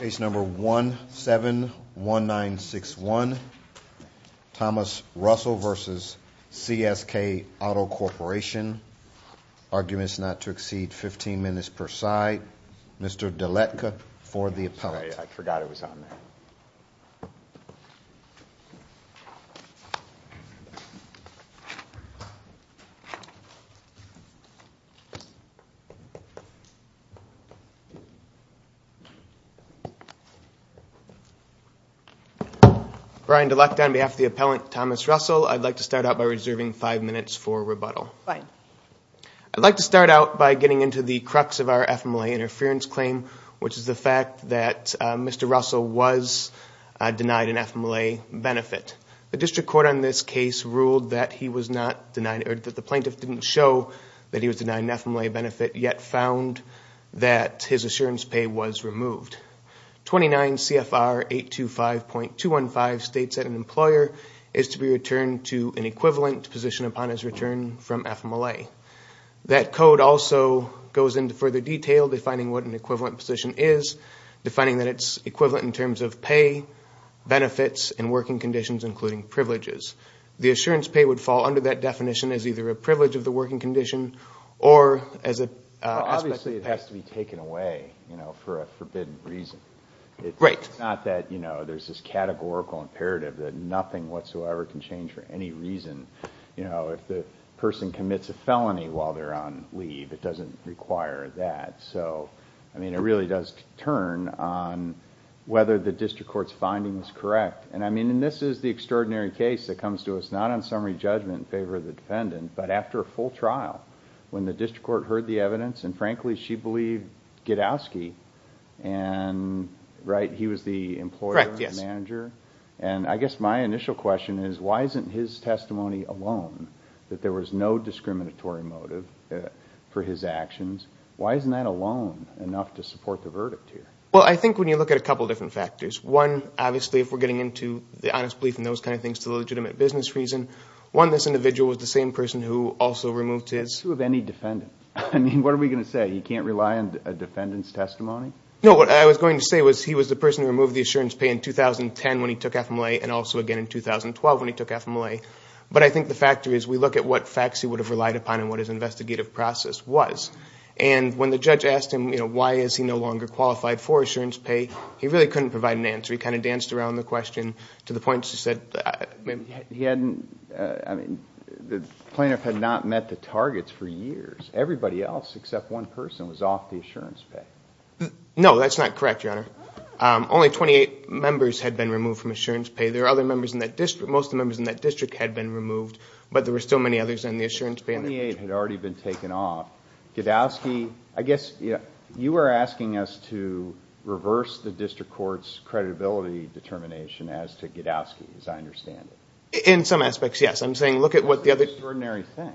Case number 171961, Thomas Russell v. CSK Auto Corporation. Arguments not to exceed 15 minutes per side. Mr. Dletka for the appellate. Sorry, I forgot it was on there. Brian Dletka on behalf of the appellate, Thomas Russell. I'd like to start out by reserving five minutes for rebuttal. I'd like to start out by getting into the crux of our FMLA interference claim, which is the fact that Mr. Russell was denied an FMLA benefit. The district court on this case ruled that he was not denied, or that the plaintiff didn't show that he was removed. 29 CFR 825.215 states that an employer is to be returned to an equivalent position upon his return from FMLA. That code also goes into further detail, defining what an equivalent position is, defining that it's equivalent in terms of pay, benefits, and working conditions, including privileges. The assurance pay would fall under that definition as either a privilege of the working condition or as a... It's not that there's this categorical imperative that nothing whatsoever can change for any reason. If the person commits a felony while they're on leave, it doesn't require that. It really does turn on whether the district court's finding is correct. This is the extraordinary case that comes to us, not on summary judgment in favor of the defendant, but after a full trial, when the district court heard the evidence, and frankly, she believed Gidowski. He was the employer, the manager. I guess my initial question is, why isn't his testimony alone that there was no discriminatory motive for his actions? Why isn't that alone enough to support the verdict here? I think when you look at a couple different factors, one, obviously, if we're getting into the honest belief and those kind of things to legitimate business reason, one, this individual was the same person who also removed his... Who of any defendant? I mean, what are we going to say? He can't rely on a defendant's testimony? No, what I was going to say was he was the person who removed the assurance pay in 2010 when he took FMLA and also again in 2012 when he took FMLA. But I think the factor is we look at what facts he would have relied upon and what his investigative process was. And when the judge asked him, you know, why is he no longer qualified for assurance pay, he really couldn't provide an answer. He kind of danced around the question to the point where he obviously said... He hadn't... I mean, the plaintiff had not met the targets for years. Everybody else except one person was off the assurance pay. No, that's not correct, Your Honor. Only 28 members had been removed from assurance pay. There were other members in that district. Most of the members in that district had been removed, but there were still many others in the assurance pay. Twenty-eight had already been taken off. Godowski, I guess you were asking us to reverse the In some aspects, yes. I'm saying look at what the other... That's an extraordinary thing.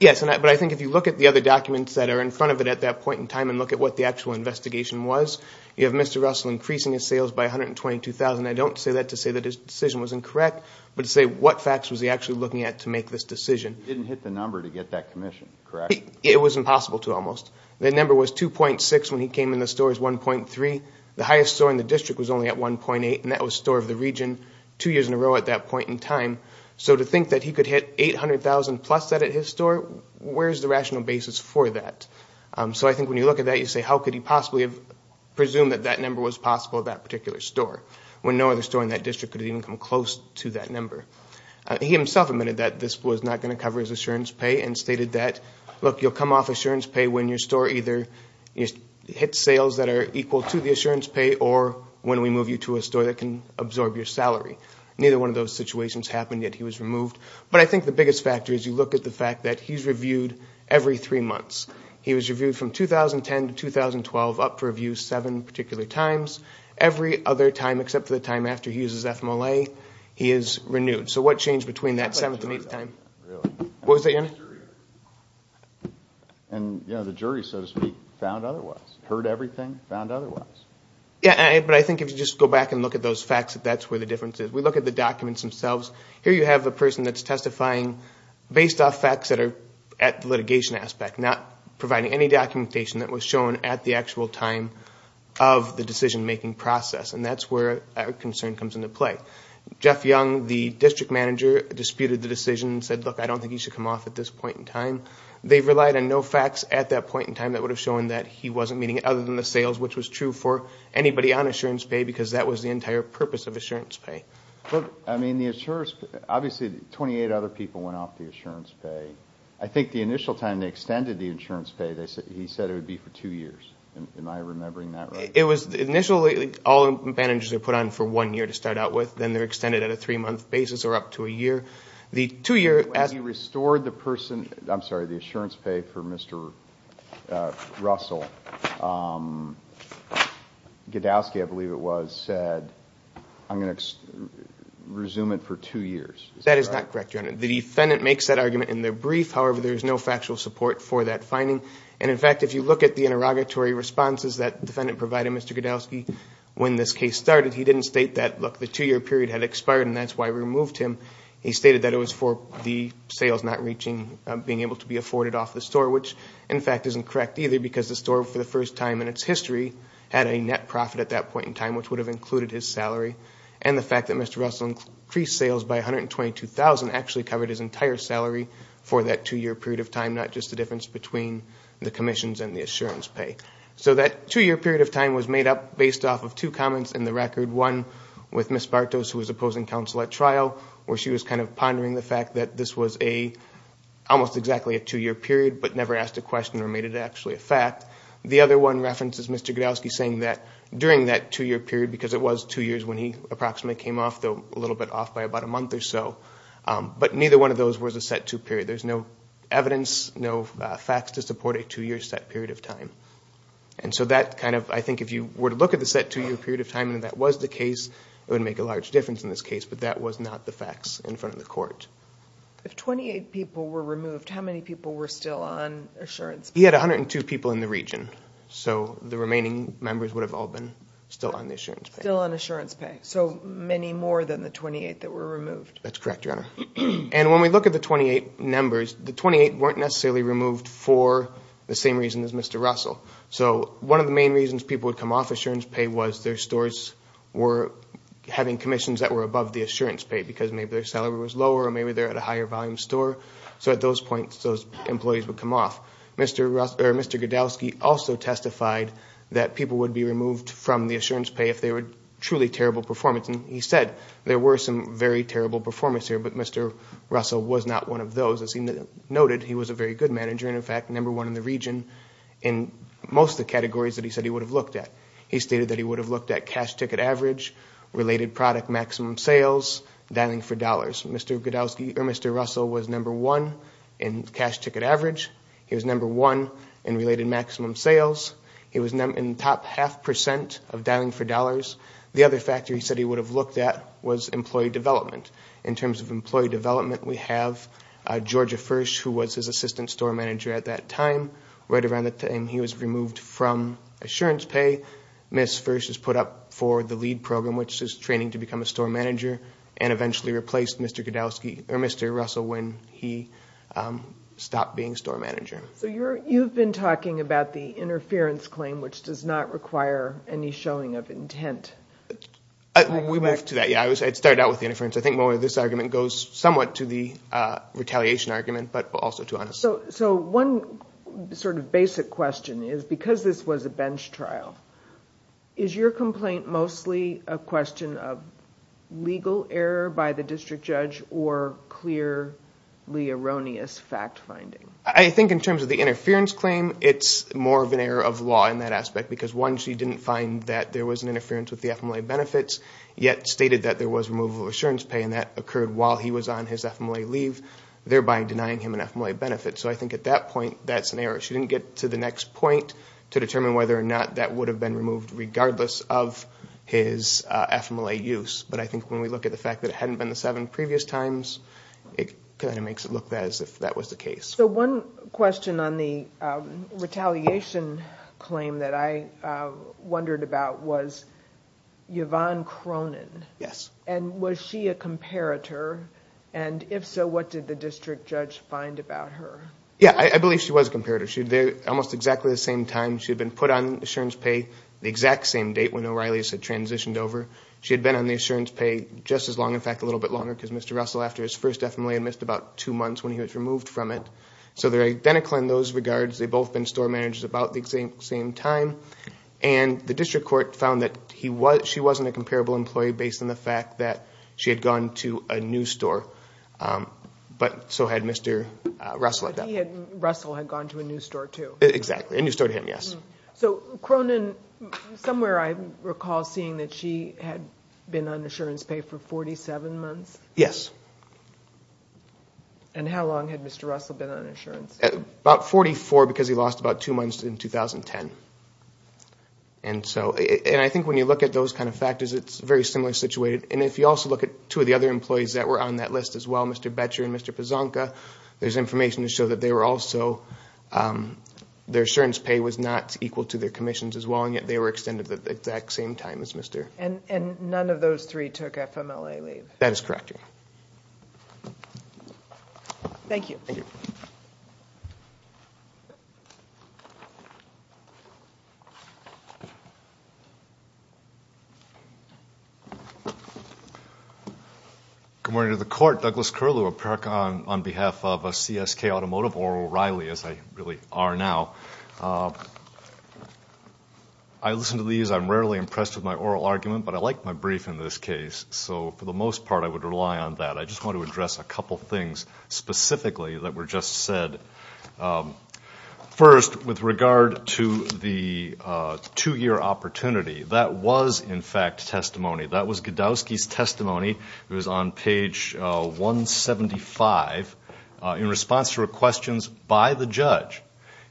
Yes, but I think if you look at the other documents that are in front of it at that point in time and look at what the actual investigation was, you have Mr. Russell increasing his sales by $122,000. I don't say that to say that his decision was incorrect, but to say what facts was he actually looking at to make this decision. He didn't hit the number to get that commission, correct? It was impossible to almost. The number was 2.6 when he came in the stores, 1.3. The highest store in the district was only at 1.8, and that was store of the region two years in a row at that point in time. So to think that he could hit $800,000 plus that at his store, where is the rational basis for that? So I think when you look at that, you say how could he possibly have presumed that that number was possible at that particular store when no other store in that district could have even come close to that number? He himself admitted that this was not going to cover his assurance pay and stated that, look, you'll come off assurance pay when your store either hits sales that are equal to the assurance pay or when we move you to a store that can absorb your salary. Neither one of those situations happened, yet he was removed. But I think the biggest factor is you look at the fact that he's reviewed every three months. He was reviewed from 2010 to 2012, up for review seven particular times. Every other time except for the time after he uses FMLA, he is renewed. So what changed between that seventh and eighth time? And the jury, so to speak, found otherwise. Heard everything, found otherwise. Yeah, but I think if you just go back and look at those facts, that's where the difference is. We look at the documents themselves. Here you have a person that's testifying based off facts that are at the litigation aspect, not providing any documentation that was shown at the actual time of the decision-making process. And that's where our concern comes into play. Jeff Young, the district manager, disputed the decision and said, look, I don't think you should come off at this point in time. They've relied on no facts at that point in time that would have shown that he wasn't meeting, other than the sales, which was true for anybody on assurance pay because that was the entire purpose of assurance pay. Look, I mean, the assurance pay, obviously 28 other people went off the assurance pay. I think the initial time they extended the insurance pay, he said it would be for two years. Am I remembering that right? It was initially all advantages are put on for one year to start out with. Then they're extended at a three-month basis or up to a year. The two-year assurance pay for Mr. Russell, Gadowski, I believe it was, said, I'm going to resume it for two years. That is not correct, Your Honor. The defendant makes that argument in their brief. However, there is no factual support for that finding. In fact, if you look at the interrogatory responses that the defendant provided Mr. Gadowski, when this case started, he didn't state that, look, the two-year period had expired and that's why we removed him. He stated that it was for the sales not reaching, being able to be afforded off the store, which, in fact, isn't correct either because the store, for the first time in its history, had a net profit at that point in time, which would have included his salary. The fact that Mr. Russell increased sales by $122,000 actually covered his entire salary for that two-year period of time, not just the difference between the commissions and the assurance pay. So that two-year period of time was made up based off of two comments in the record, one with Ms. Bartos, who was opposing counsel at trial, where she was kind of pondering the fact that this was almost exactly a two-year period but never asked a question or made it actually a fact. The other one references Mr. Gadowski saying that during that two-year period, because it was two years when he approximately came off, though a little bit off by about a month or so, but neither one of those was a set two period. There's no evidence, no facts to support a two-year set period of time. And so that kind of, I think if you were to look at the set two-year period of time and that was the case, it would make a large difference in this case, but that was not the facts in front of the court. If 28 people were removed, how many people were still on assurance pay? He had 102 people in the region, so the remaining members would have all been still on the assurance pay. Still on assurance pay, so many more than the 28 that were removed. That's correct, Your Honor. And when we look at the 28 numbers, the 28 weren't necessarily removed for the same reason as Mr. Russell. So one of the main reasons people would come off assurance pay was their stores were having commissions that were above the assurance pay because maybe their salary was lower or maybe they were at a higher-volume store. So at those points, those employees would come off. Mr. Gadowski also testified that people would be removed from the assurance pay if they were truly terrible performance. He said there were some very terrible performance here, but Mr. Russell was not one of those. As he noted, he was a very good manager and, in fact, number one in the region in most of the categories that he said he would have looked at. He stated that he would have looked at cash ticket average, related product maximum sales, and dialing for dollars. Mr. Russell was number one in cash ticket average. He was number one in related maximum sales. He was in the top half percent of dialing for dollars. The other factor he said he would have looked at was employee development. In terms of employee development, we have Georgia First, who was his assistant store manager at that time. Right around the time he was removed from assurance pay, Ms. First was put up for the LEAD program, which is training to become a store manager, and eventually replaced Mr. Russell when he stopped being store manager. You've been talking about the interference claim, which does not require any showing of intent. We moved to that, yes. It started out with the interference. I think this argument goes somewhat to the retaliation argument, but also to honesty. One sort of basic question is, because this was a bench trial, is your complaint mostly a question of legal error by the district judge or clearly erroneous fact finding? I think in terms of the interference claim, it's more of an error of law in that aspect, because one, she didn't find that there was an interference with the FMLA benefits, yet stated that there was removal of assurance pay, and that occurred while he was on his FMLA leave, thereby denying him an FMLA benefit. So I think at that point, that's an error. She didn't get to the next point to determine whether or not that would have been removed, regardless of his FMLA use. But I think when we look at the fact that it hadn't been the seven previous times, it kind of makes it look as if that was the case. So one question on the retaliation claim that I wondered about was Yvonne Cronin. Yes. And was she a comparator, and if so, what did the district judge find about her? Yes, I believe she was a comparator. Almost exactly the same time, she had been put on assurance pay the exact same date when O'Reilly's had transitioned over. She had been on the assurance pay just as long, in fact a little bit longer, because Mr. Russell, after his first FMLA, had missed about two months when he was removed from it. So they're identical in those regards. They'd both been store managers about the exact same time. And the district court found that she wasn't a comparable employee based on the fact that she had gone to a new store, but so had Mr. Russell. But Russell had gone to a new store too. Exactly, a new store to him, yes. So Cronin, somewhere I recall seeing that she had been on assurance pay for 47 months. Yes. And how long had Mr. Russell been on assurance? About 44, because he lost about two months in 2010. And I think when you look at those kind of factors, it's a very similar situation. And if you also look at two of the other employees that were on that list as well, Mr. Boettcher and Mr. Pazonka, there's information to show that they were also their assurance pay was not equal to their commissions as well, and yet they were extended at the exact same time as Mr. And none of those three took FMLA leave. That is correct. Thank you. Good morning to the court. I'm Mark Douglas Curlew on behalf of CSK Automotive, or O'Reilly as I really are now. I listen to these. I'm rarely impressed with my oral argument, but I like my brief in this case. So for the most part, I would rely on that. I just want to address a couple of things specifically that were just said. First, with regard to the two-year opportunity, that was, in fact, testimony. That was Godowsky's testimony. It was on page 175. In response to her questions by the judge,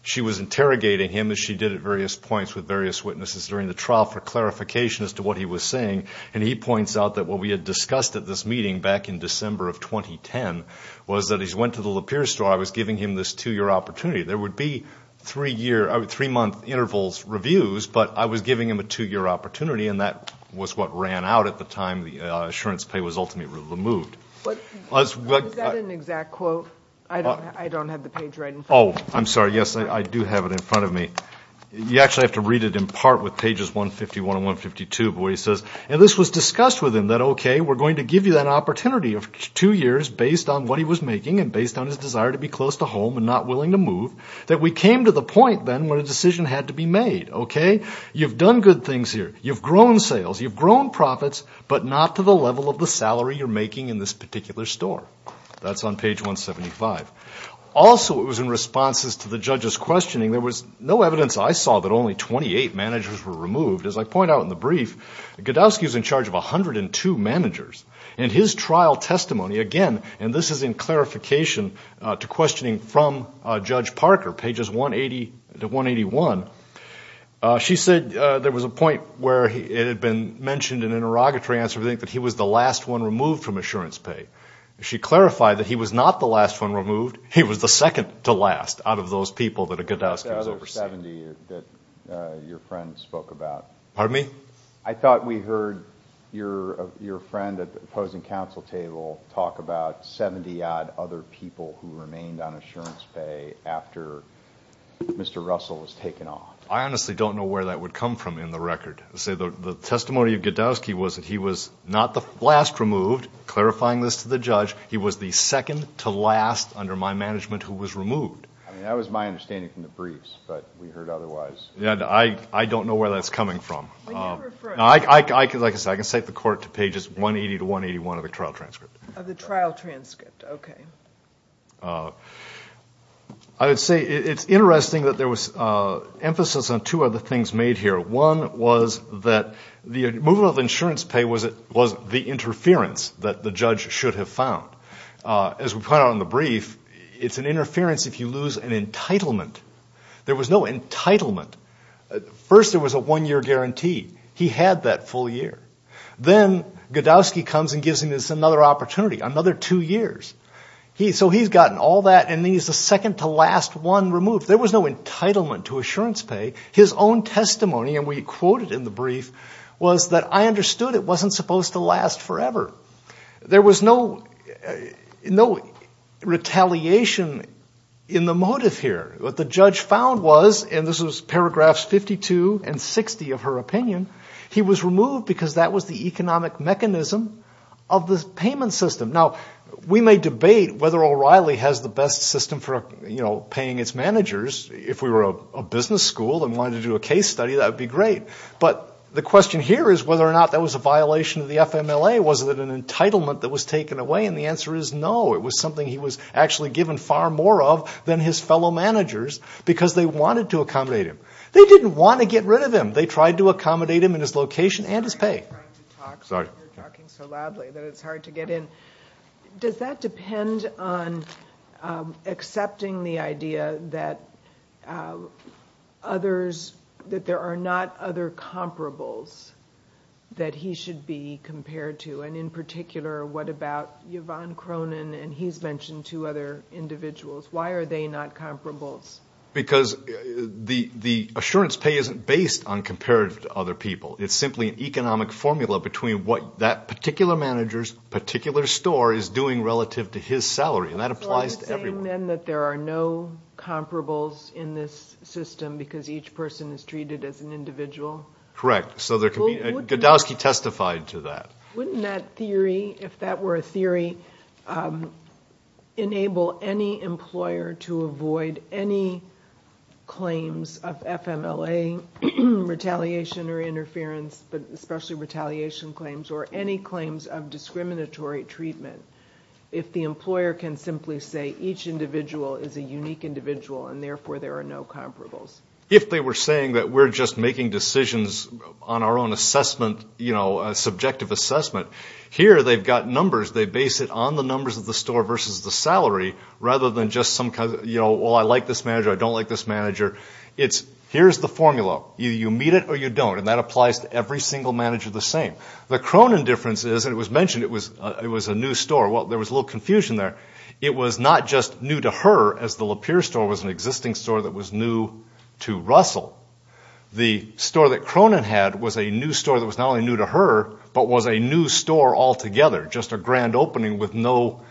she was interrogating him, as she did at various points with various witnesses during the trial, for clarification as to what he was saying. And he points out that what we had discussed at this meeting back in December of 2010 was that he went to the Lapeer store. I was giving him this two-year opportunity. There would be three-month interval reviews, but I was giving him a two-year opportunity, and that was what ran out at the time the assurance pay was ultimately removed. Is that an exact quote? I don't have the page right in front of me. Oh, I'm sorry. Yes, I do have it in front of me. You actually have to read it in part with pages 151 and 152 where he says, and this was discussed with him, that, okay, we're going to give you that opportunity of two years based on what he was making and based on his desire to be close to home and not willing to move, that we came to the point then where a decision had to be made. Okay? You've done good things here. You've grown sales. You've grown profits, but not to the level of the salary you're making in this particular store. That's on page 175. Also, it was in responses to the judge's questioning, there was no evidence I saw that only 28 managers were removed. As I point out in the brief, Godowsky was in charge of 102 managers. In his trial testimony, again, and this is in clarification to questioning from Judge Parker, pages 180 to 181, she said there was a point where it had been mentioned in an interrogatory answer, I think, that he was the last one removed from insurance pay. She clarified that he was not the last one removed. He was the second to last out of those people that a Godowsky was overseeing. The other 70 that your friend spoke about. Pardon me? I thought we heard your friend at the opposing counsel table talk about 70-odd other people who remained on insurance pay after Mr. Russell was taken off. I honestly don't know where that would come from in the record. The testimony of Godowsky was that he was not the last removed, clarifying this to the judge. He was the second to last under my management who was removed. That was my understanding from the briefs, but we heard otherwise. I don't know where that's coming from. I can cite the court to pages 180 to 181 of the trial transcript. Of the trial transcript, okay. I would say it's interesting that there was emphasis on two other things made here. One was that the removal of insurance pay was the interference that the judge should have found. As we point out in the brief, it's an interference if you lose an entitlement. There was no entitlement. First, there was a one-year guarantee. He had that full year. Then Godowsky comes and gives him another opportunity, another two years. So he's gotten all that, and he's the second to last one removed. There was no entitlement to insurance pay. His own testimony, and we quote it in the brief, was that, I understood it wasn't supposed to last forever. There was no retaliation in the motive here. What the judge found was, and this was paragraphs 52 and 60 of her opinion, he was removed because that was the economic mechanism of the payment system. Now, we may debate whether O'Reilly has the best system for paying its managers. If we were a business school and wanted to do a case study, that would be great. But the question here is whether or not that was a violation of the FMLA. Was it an entitlement that was taken away? And the answer is no. It was something he was actually given far more of than his fellow managers because they wanted to accommodate him. They didn't want to get rid of him. They tried to accommodate him in his location and his pay. Sorry. You're talking so loudly that it's hard to get in. Does that depend on accepting the idea that others, that there are not other comparables that he should be compared to? And in particular, what about Yvonne Cronin? And he's mentioned two other individuals. Why are they not comparables? Because the assurance pay isn't based on comparative to other people. It's simply an economic formula between what that particular manager's particular store is doing relative to his salary, and that applies to everyone. So you're saying, then, that there are no comparables in this system because each person is treated as an individual? Correct. Godowski testified to that. Wouldn't that theory, if that were a theory, enable any employer to avoid any claims of FMLA retaliation or interference, especially retaliation claims, or any claims of discriminatory treatment if the employer can simply say each individual is a unique individual and, therefore, there are no comparables? If they were saying that we're just making decisions on our own assessment, subjective assessment, here they've got numbers. They base it on the numbers of the store versus the salary, rather than just, well, I like this manager, I don't like this manager. Here's the formula. You meet it or you don't, and that applies to every single manager the same. The Cronin difference is, and it was mentioned, it was a new store. Well, there was a little confusion there. It was not just new to her, as the Lapeer store was an existing store that was new to Russell. The store that Cronin had was a new store that was not only new to her, but was a new store altogether, just a grand opening with no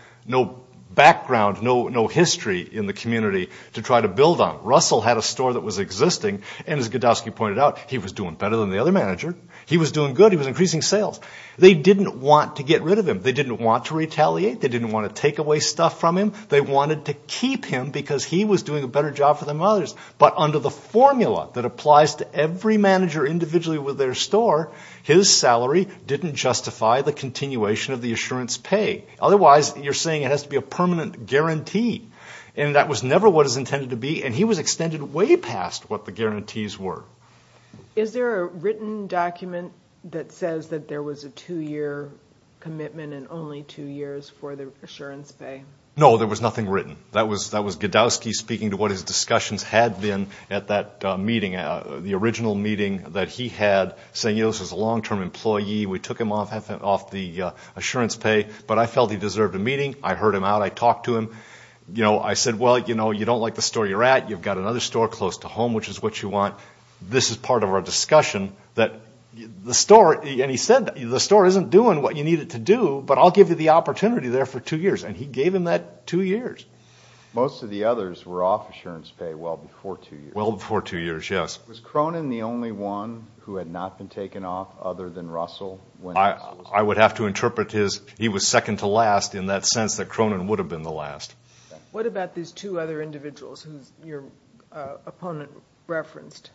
background, no history in the community to try to build on. Russell had a store that was existing, and as Godowski pointed out, he was doing better than the other manager. He was doing good. He was increasing sales. They didn't want to get rid of him. They didn't want to retaliate. They didn't want to take away stuff from him. They wanted to keep him because he was doing a better job for them than others. But under the formula that applies to every manager individually with their store, his salary didn't justify the continuation of the assurance pay. Otherwise, you're saying it has to be a permanent guarantee, and that was never what it was intended to be, and he was extended way past what the guarantees were. Is there a written document that says that there was a two-year commitment and only two years for the assurance pay? No, there was nothing written. That was Godowski speaking to what his discussions had been at that meeting, the original meeting that he had, saying, you know, this is a long-term employee. We took him off the assurance pay, but I felt he deserved a meeting. I heard him out. I talked to him. I said, well, you know, you don't like the store you're at. You've got another store close to home, which is what you want. This is part of our discussion that the store, and he said, the store isn't doing what you need it to do, but I'll give you the opportunity there for two years, and he gave him that two years. Most of the others were off assurance pay well before two years. Well before two years, yes. Was Cronin the only one who had not been taken off other than Russell? I would have to interpret his, he was second to last in that sense that Cronin would have been the last. What about these two other individuals who your opponent referenced?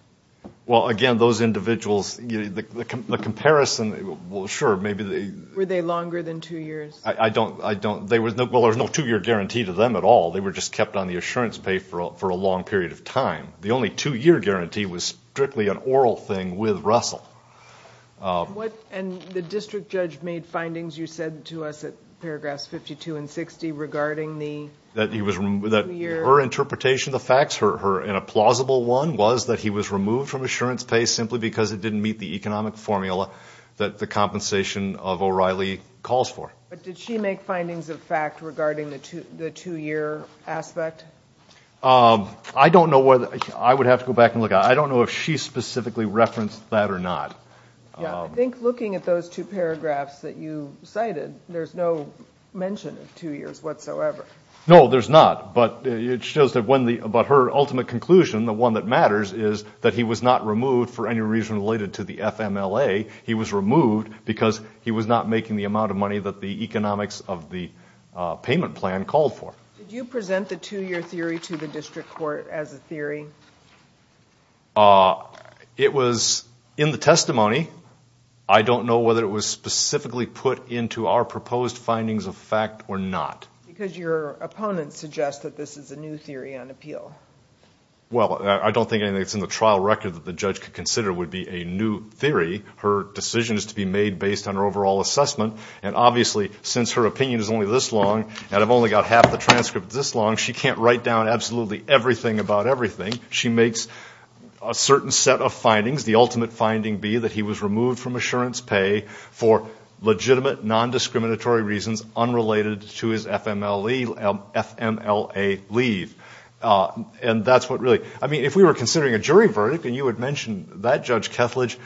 Well, again, those individuals, the comparison, well, sure, maybe they— Were they longer than two years? I don't—well, there was no two-year guarantee to them at all. They were just kept on the assurance pay for a long period of time. The only two-year guarantee was strictly an oral thing with Russell. And the district judge made findings, you said to us at paragraphs 52 and 60, regarding the two-year— That her interpretation of the facts, her— and a plausible one was that he was removed from assurance pay simply because it didn't meet the economic formula that the compensation of O'Reilly calls for. But did she make findings of fact regarding the two-year aspect? I don't know whether—I would have to go back and look. I don't know if she specifically referenced that or not. Yeah, I think looking at those two paragraphs that you cited, there's no mention of two years whatsoever. No, there's not, but it shows that when the— but her ultimate conclusion, the one that matters, is that he was not removed for any reason related to the FMLA. He was removed because he was not making the amount of money that the economics of the payment plan called for. Did you present the two-year theory to the district court as a theory? It was in the testimony. I don't know whether it was specifically put into our proposed findings of fact or not. Because your opponents suggest that this is a new theory on appeal. Well, I don't think anything that's in the trial record that the judge could consider would be a new theory. Her decision is to be made based on her overall assessment. And obviously, since her opinion is only this long, and I've only got half the transcript this long, she can't write down absolutely everything about everything. She makes a certain set of findings. The ultimate finding be that he was removed from assurance pay for legitimate non-discriminatory reasons unrelated to his FMLA leave. If we were considering a jury verdict, and you had mentioned that Judge Kethledge,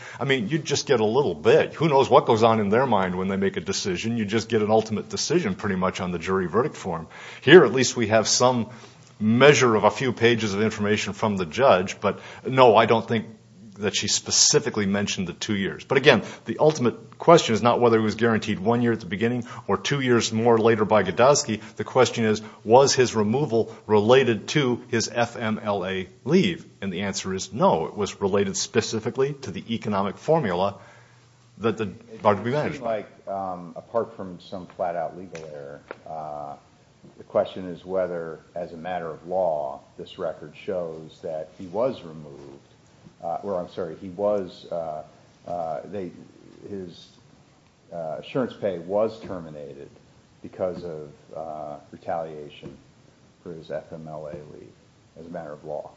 you'd just get a little bit. Who knows what goes on in their mind when they make a decision? You'd just get an ultimate decision pretty much on the jury verdict form. Here, at least, we have some measure of a few pages of information from the judge. But no, I don't think that she specifically mentioned the two years. But again, the ultimate question is not whether he was guaranteed one year at the beginning or two years more later by Godosky. The question is, was his removal related to his FMLA leave? And the answer is no. It was related specifically to the economic formula that the DWB managed. It seems like, apart from some flat-out legal error, the question is whether, as a matter of law, this record shows that he was removed. I'm sorry, his insurance pay was terminated because of retaliation for his FMLA leave, as a matter of law.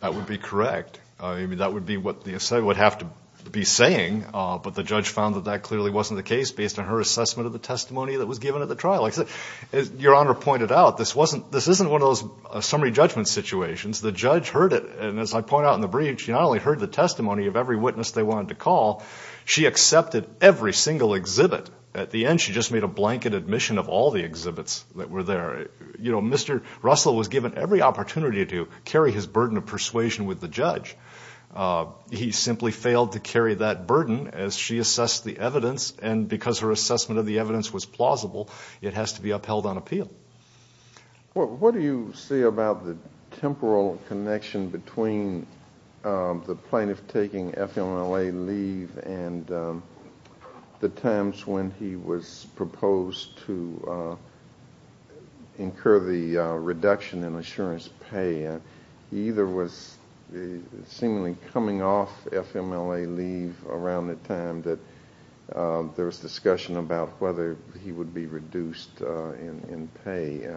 That would be correct. That would be what the assailant would have to be saying, but the judge found that that clearly wasn't the case based on her assessment of the testimony that was given at the trial. As Your Honor pointed out, this isn't one of those summary judgment situations. The judge heard it, and as I point out in the brief, she not only heard the testimony of every witness they wanted to call, she accepted every single exhibit. At the end, she just made a blanket admission of all the exhibits that were there. You know, Mr. Russell was given every opportunity to carry his burden of persuasion with the judge. He simply failed to carry that burden as she assessed the evidence, and because her assessment of the evidence was plausible, it has to be upheld on appeal. What do you see about the temporal connection between the plaintiff taking FMLA leave and the times when he was proposed to incur the reduction in insurance pay? He either was seemingly coming off FMLA leave around the time that there was discussion about whether he would be reduced in pay.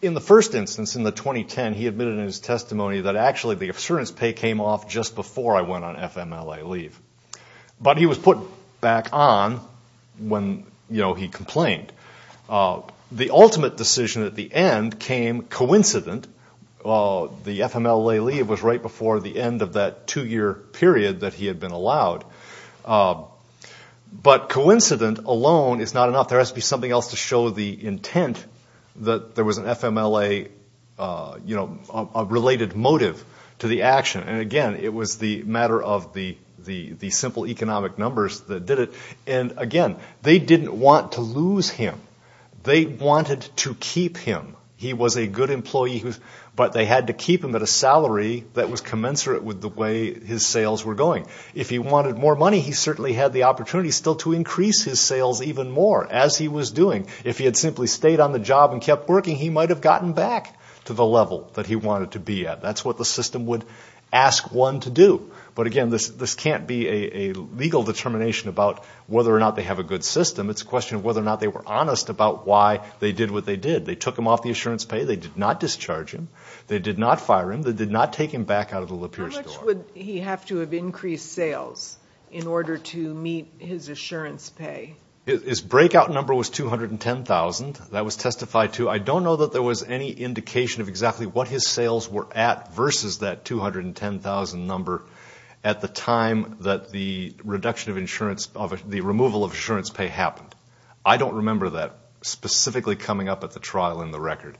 In the first instance, in the 2010, he admitted in his testimony that actually the insurance pay came off just before I went on FMLA leave. But he was put back on when he complained. The ultimate decision at the end came coincident. The FMLA leave was right before the end of that two-year period that he had been allowed. But coincident alone is not enough. There has to be something else to show the intent that there was an FMLA related motive to the action. And again, it was the matter of the simple economic numbers that did it. And again, they didn't want to lose him. They wanted to keep him. He was a good employee, but they had to keep him at a salary that was commensurate with the way his sales were going. If he wanted more money, he certainly had the opportunity still to increase his sales even more, as he was doing. If he had simply stayed on the job and kept working, he might have gotten back to the level that he wanted to be at. That's what the system would ask one to do. But again, this can't be a legal determination about whether or not they have a good system. It's a question of whether or not they were honest about why they did what they did. They took him off the insurance pay. They did not discharge him. They did not fire him. They did not take him back out of the Lapeer store. How much would he have to have increased sales in order to meet his insurance pay? His breakout number was $210,000. That was testified to. I don't know that there was any indication of exactly what his sales were at versus that $210,000 number at the time that the reduction of insurance, the removal of insurance pay happened. I don't remember that specifically coming up at the trial in the record.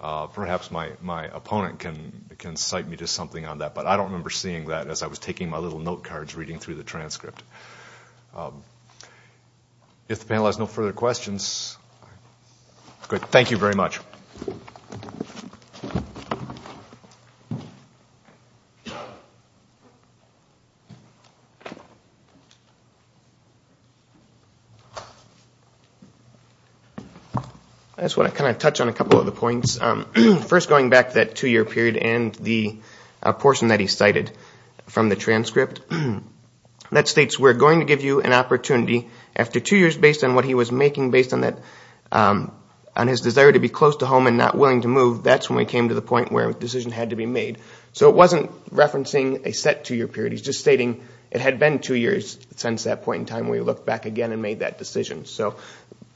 Perhaps my opponent can cite me to something on that, but I don't remember seeing that as I was taking my little note cards reading through the transcript. If the panel has no further questions, good. Thank you very much. I just want to kind of touch on a couple of the points. First, going back to that two-year period and the portion that he cited from the transcript, that states we're going to give you an opportunity after two years based on what he was making, and based on his desire to be close to home and not willing to move, that's when we came to the point where a decision had to be made. It wasn't referencing a set two-year period. He's just stating it had been two years since that point in time. We looked back again and made that decision.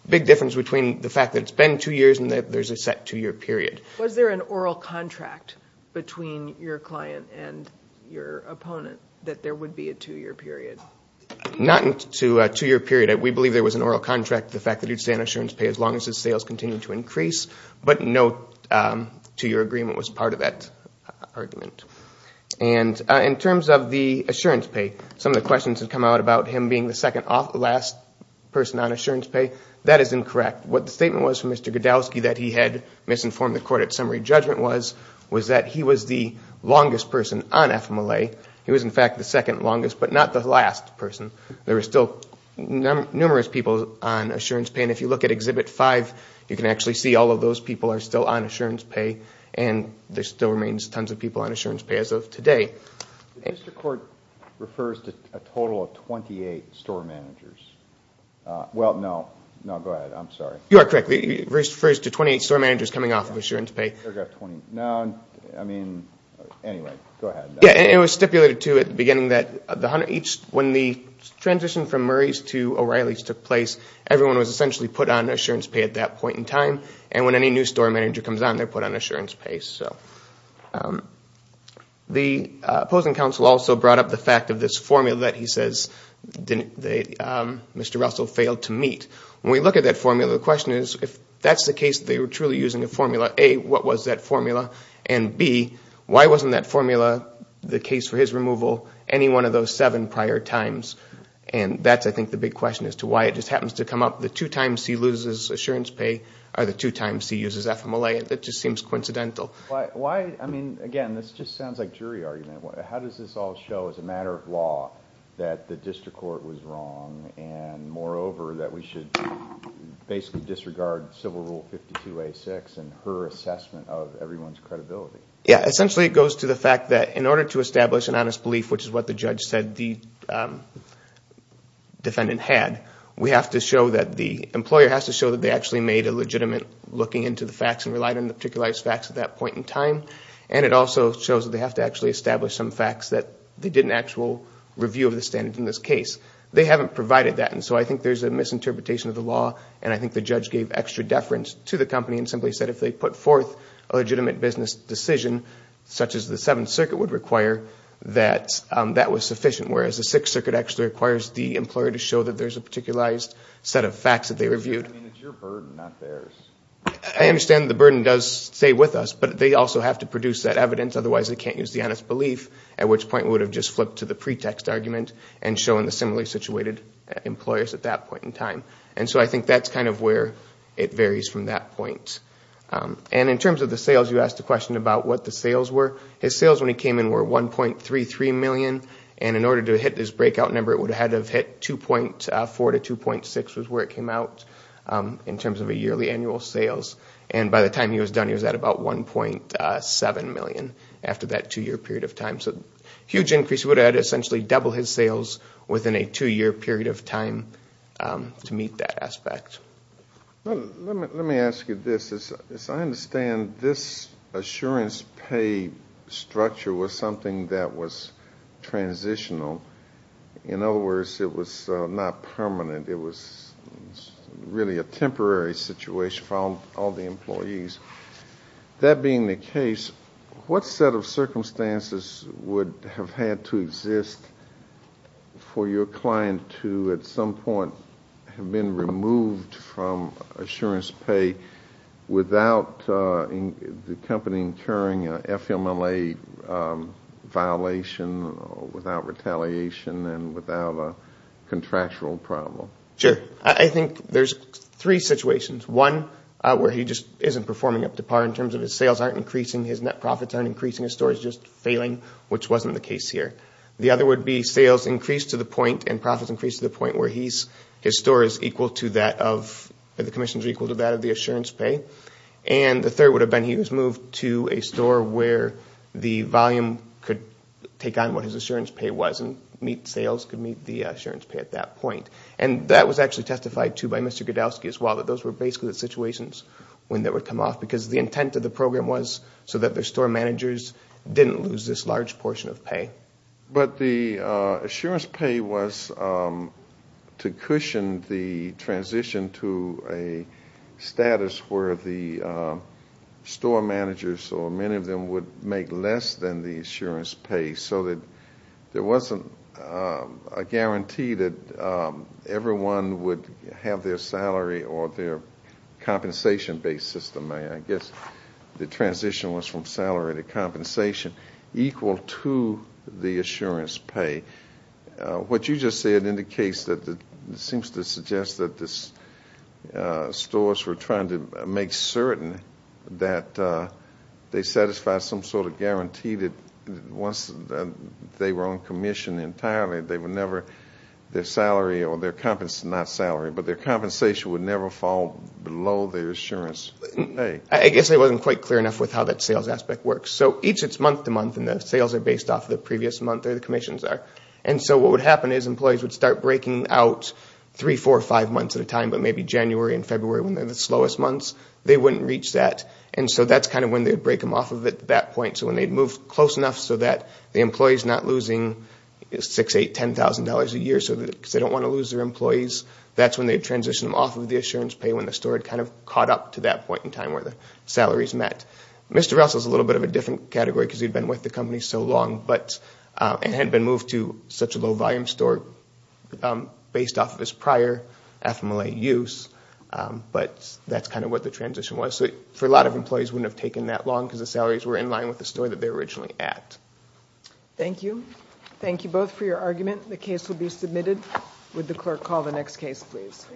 Big difference between the fact that it's been two years and that there's a set two-year period. Was there an oral contract between your client and your opponent that there would be a two-year period? Not to a two-year period. We believe there was an oral contract, the fact that he would stay on assurance pay as long as his sales continued to increase. But no, to your agreement, was part of that argument. And in terms of the assurance pay, some of the questions have come out about him being the second last person on assurance pay. That is incorrect. What the statement was from Mr. Godowski that he had misinformed the court at summary judgment was, was that he was the longest person on FMLA. He was, in fact, the second longest, but not the last person. There are still numerous people on assurance pay, and if you look at Exhibit 5, you can actually see all of those people are still on assurance pay, and there still remains tons of people on assurance pay as of today. Mr. Court refers to a total of 28 store managers. Well, no. No, go ahead. I'm sorry. You are correct. It refers to 28 store managers coming off of assurance pay. No, I mean, anyway, go ahead. Yeah, and it was stipulated, too, at the beginning that when the transition from Murray's to O'Reilly's took place, everyone was essentially put on assurance pay at that point in time, and when any new store manager comes on, they're put on assurance pay. So the opposing counsel also brought up the fact of this formula that he says Mr. Russell failed to meet. When we look at that formula, the question is, if that's the case, they were truly using a formula, A, what was that formula, and B, why wasn't that formula, the case for his removal, any one of those seven prior times? And that's, I think, the big question as to why it just happens to come up. The two times he loses assurance pay are the two times he uses FMLA. It just seems coincidental. Why, I mean, again, this just sounds like jury argument. How does this all show as a matter of law that the district court was wrong and, moreover, that we should basically disregard Civil Rule 52A6 and her assessment of everyone's credibility? Essentially, it goes to the fact that in order to establish an honest belief, which is what the judge said the defendant had, we have to show that the employer has to show that they actually made a legitimate looking into the facts and relied on the particularized facts at that point in time, and it also shows that they have to actually establish some facts that they did an actual review of the standards in this case. They haven't provided that, and so I think there's a misinterpretation of the law, and I think the judge gave extra deference to the company and simply said if they put forth a legitimate business decision, such as the Seventh Circuit would require, that that was sufficient, whereas the Sixth Circuit actually requires the employer to show that there's a particularized set of facts that they reviewed. I mean, it's your burden, not theirs. I understand the burden does stay with us, but they also have to produce that evidence. Otherwise, they can't use the honest belief, at which point we would have just flipped to the pretext argument and shown the similarly situated employers at that point in time. And so I think that's kind of where it varies from that point. And in terms of the sales, you asked a question about what the sales were. His sales when he came in were 1.33 million, and in order to hit his breakout number, it would have had to have hit 2.4 to 2.6 was where it came out, in terms of a yearly annual sales, and by the time he was done, he was at about 1.7 million after that two-year period of time. So a huge increase. It would have had to essentially double his sales within a two-year period of time to meet that aspect. Let me ask you this. As I understand, this assurance pay structure was something that was transitional. In other words, it was not permanent. It was really a temporary situation for all the employees. That being the case, what set of circumstances would have had to exist for your client to, at some point, have been removed from assurance pay without the company incurring an FMLA violation, without retaliation, and without a contractual problem? Sure. I think there's three situations. One, where he just isn't performing up to par in terms of his sales aren't increasing, his net profits aren't increasing, his store is just failing, which wasn't the case here. The other would be sales increased to the point and profits increased to the point where his store is equal to that of, the commissions are equal to that of the assurance pay. The third would have been he was moved to a store where the volume could take on what his assurance pay was and meet sales, could meet the assurance pay at that point. And that was actually testified to by Mr. Godowski as well, that those were basically the situations when that would come off because the intent of the program was so that the store managers didn't lose this large portion of pay. But the assurance pay was to cushion the transition to a status where the store managers, or many of them, would make less than the assurance pay, so that there wasn't a guarantee that everyone would have their salary or their compensation-based system. I guess the transition was from salary to compensation equal to the assurance pay. What you just said indicates that it seems to suggest that the stores were trying to make certain that they satisfied some sort of guarantee that once they were on commission entirely, they would never, their salary or their compensation, not salary, but their compensation would never fall below their assurance pay. I guess I wasn't quite clear enough with how that sales aspect works. So each, it's month to month, and the sales are based off the previous month or the commissions are. And so what would happen is employees would start breaking out three, four, or five months at a time, but maybe January and February when they're the slowest months, they wouldn't reach that. And so that's kind of when they'd break them off of it at that point. So when they'd move close enough so that the employee's not losing $6,000, $8,000, $10,000 a year because they don't want to lose their employees, that's when they'd transition them off of the assurance pay when the store had kind of caught up to that point in time where the salaries met. Mr. Russell's a little bit of a different category because he'd been with the company so long, but it had been moved to such a low-volume store based off of his prior FMLA use, but that's kind of what the transition was. So for a lot of employees, it wouldn't have taken that long because the salaries were in line with the store that they were originally at. Thank you. Thank you both for your argument. The case will be submitted. Would the clerk call the next case, please?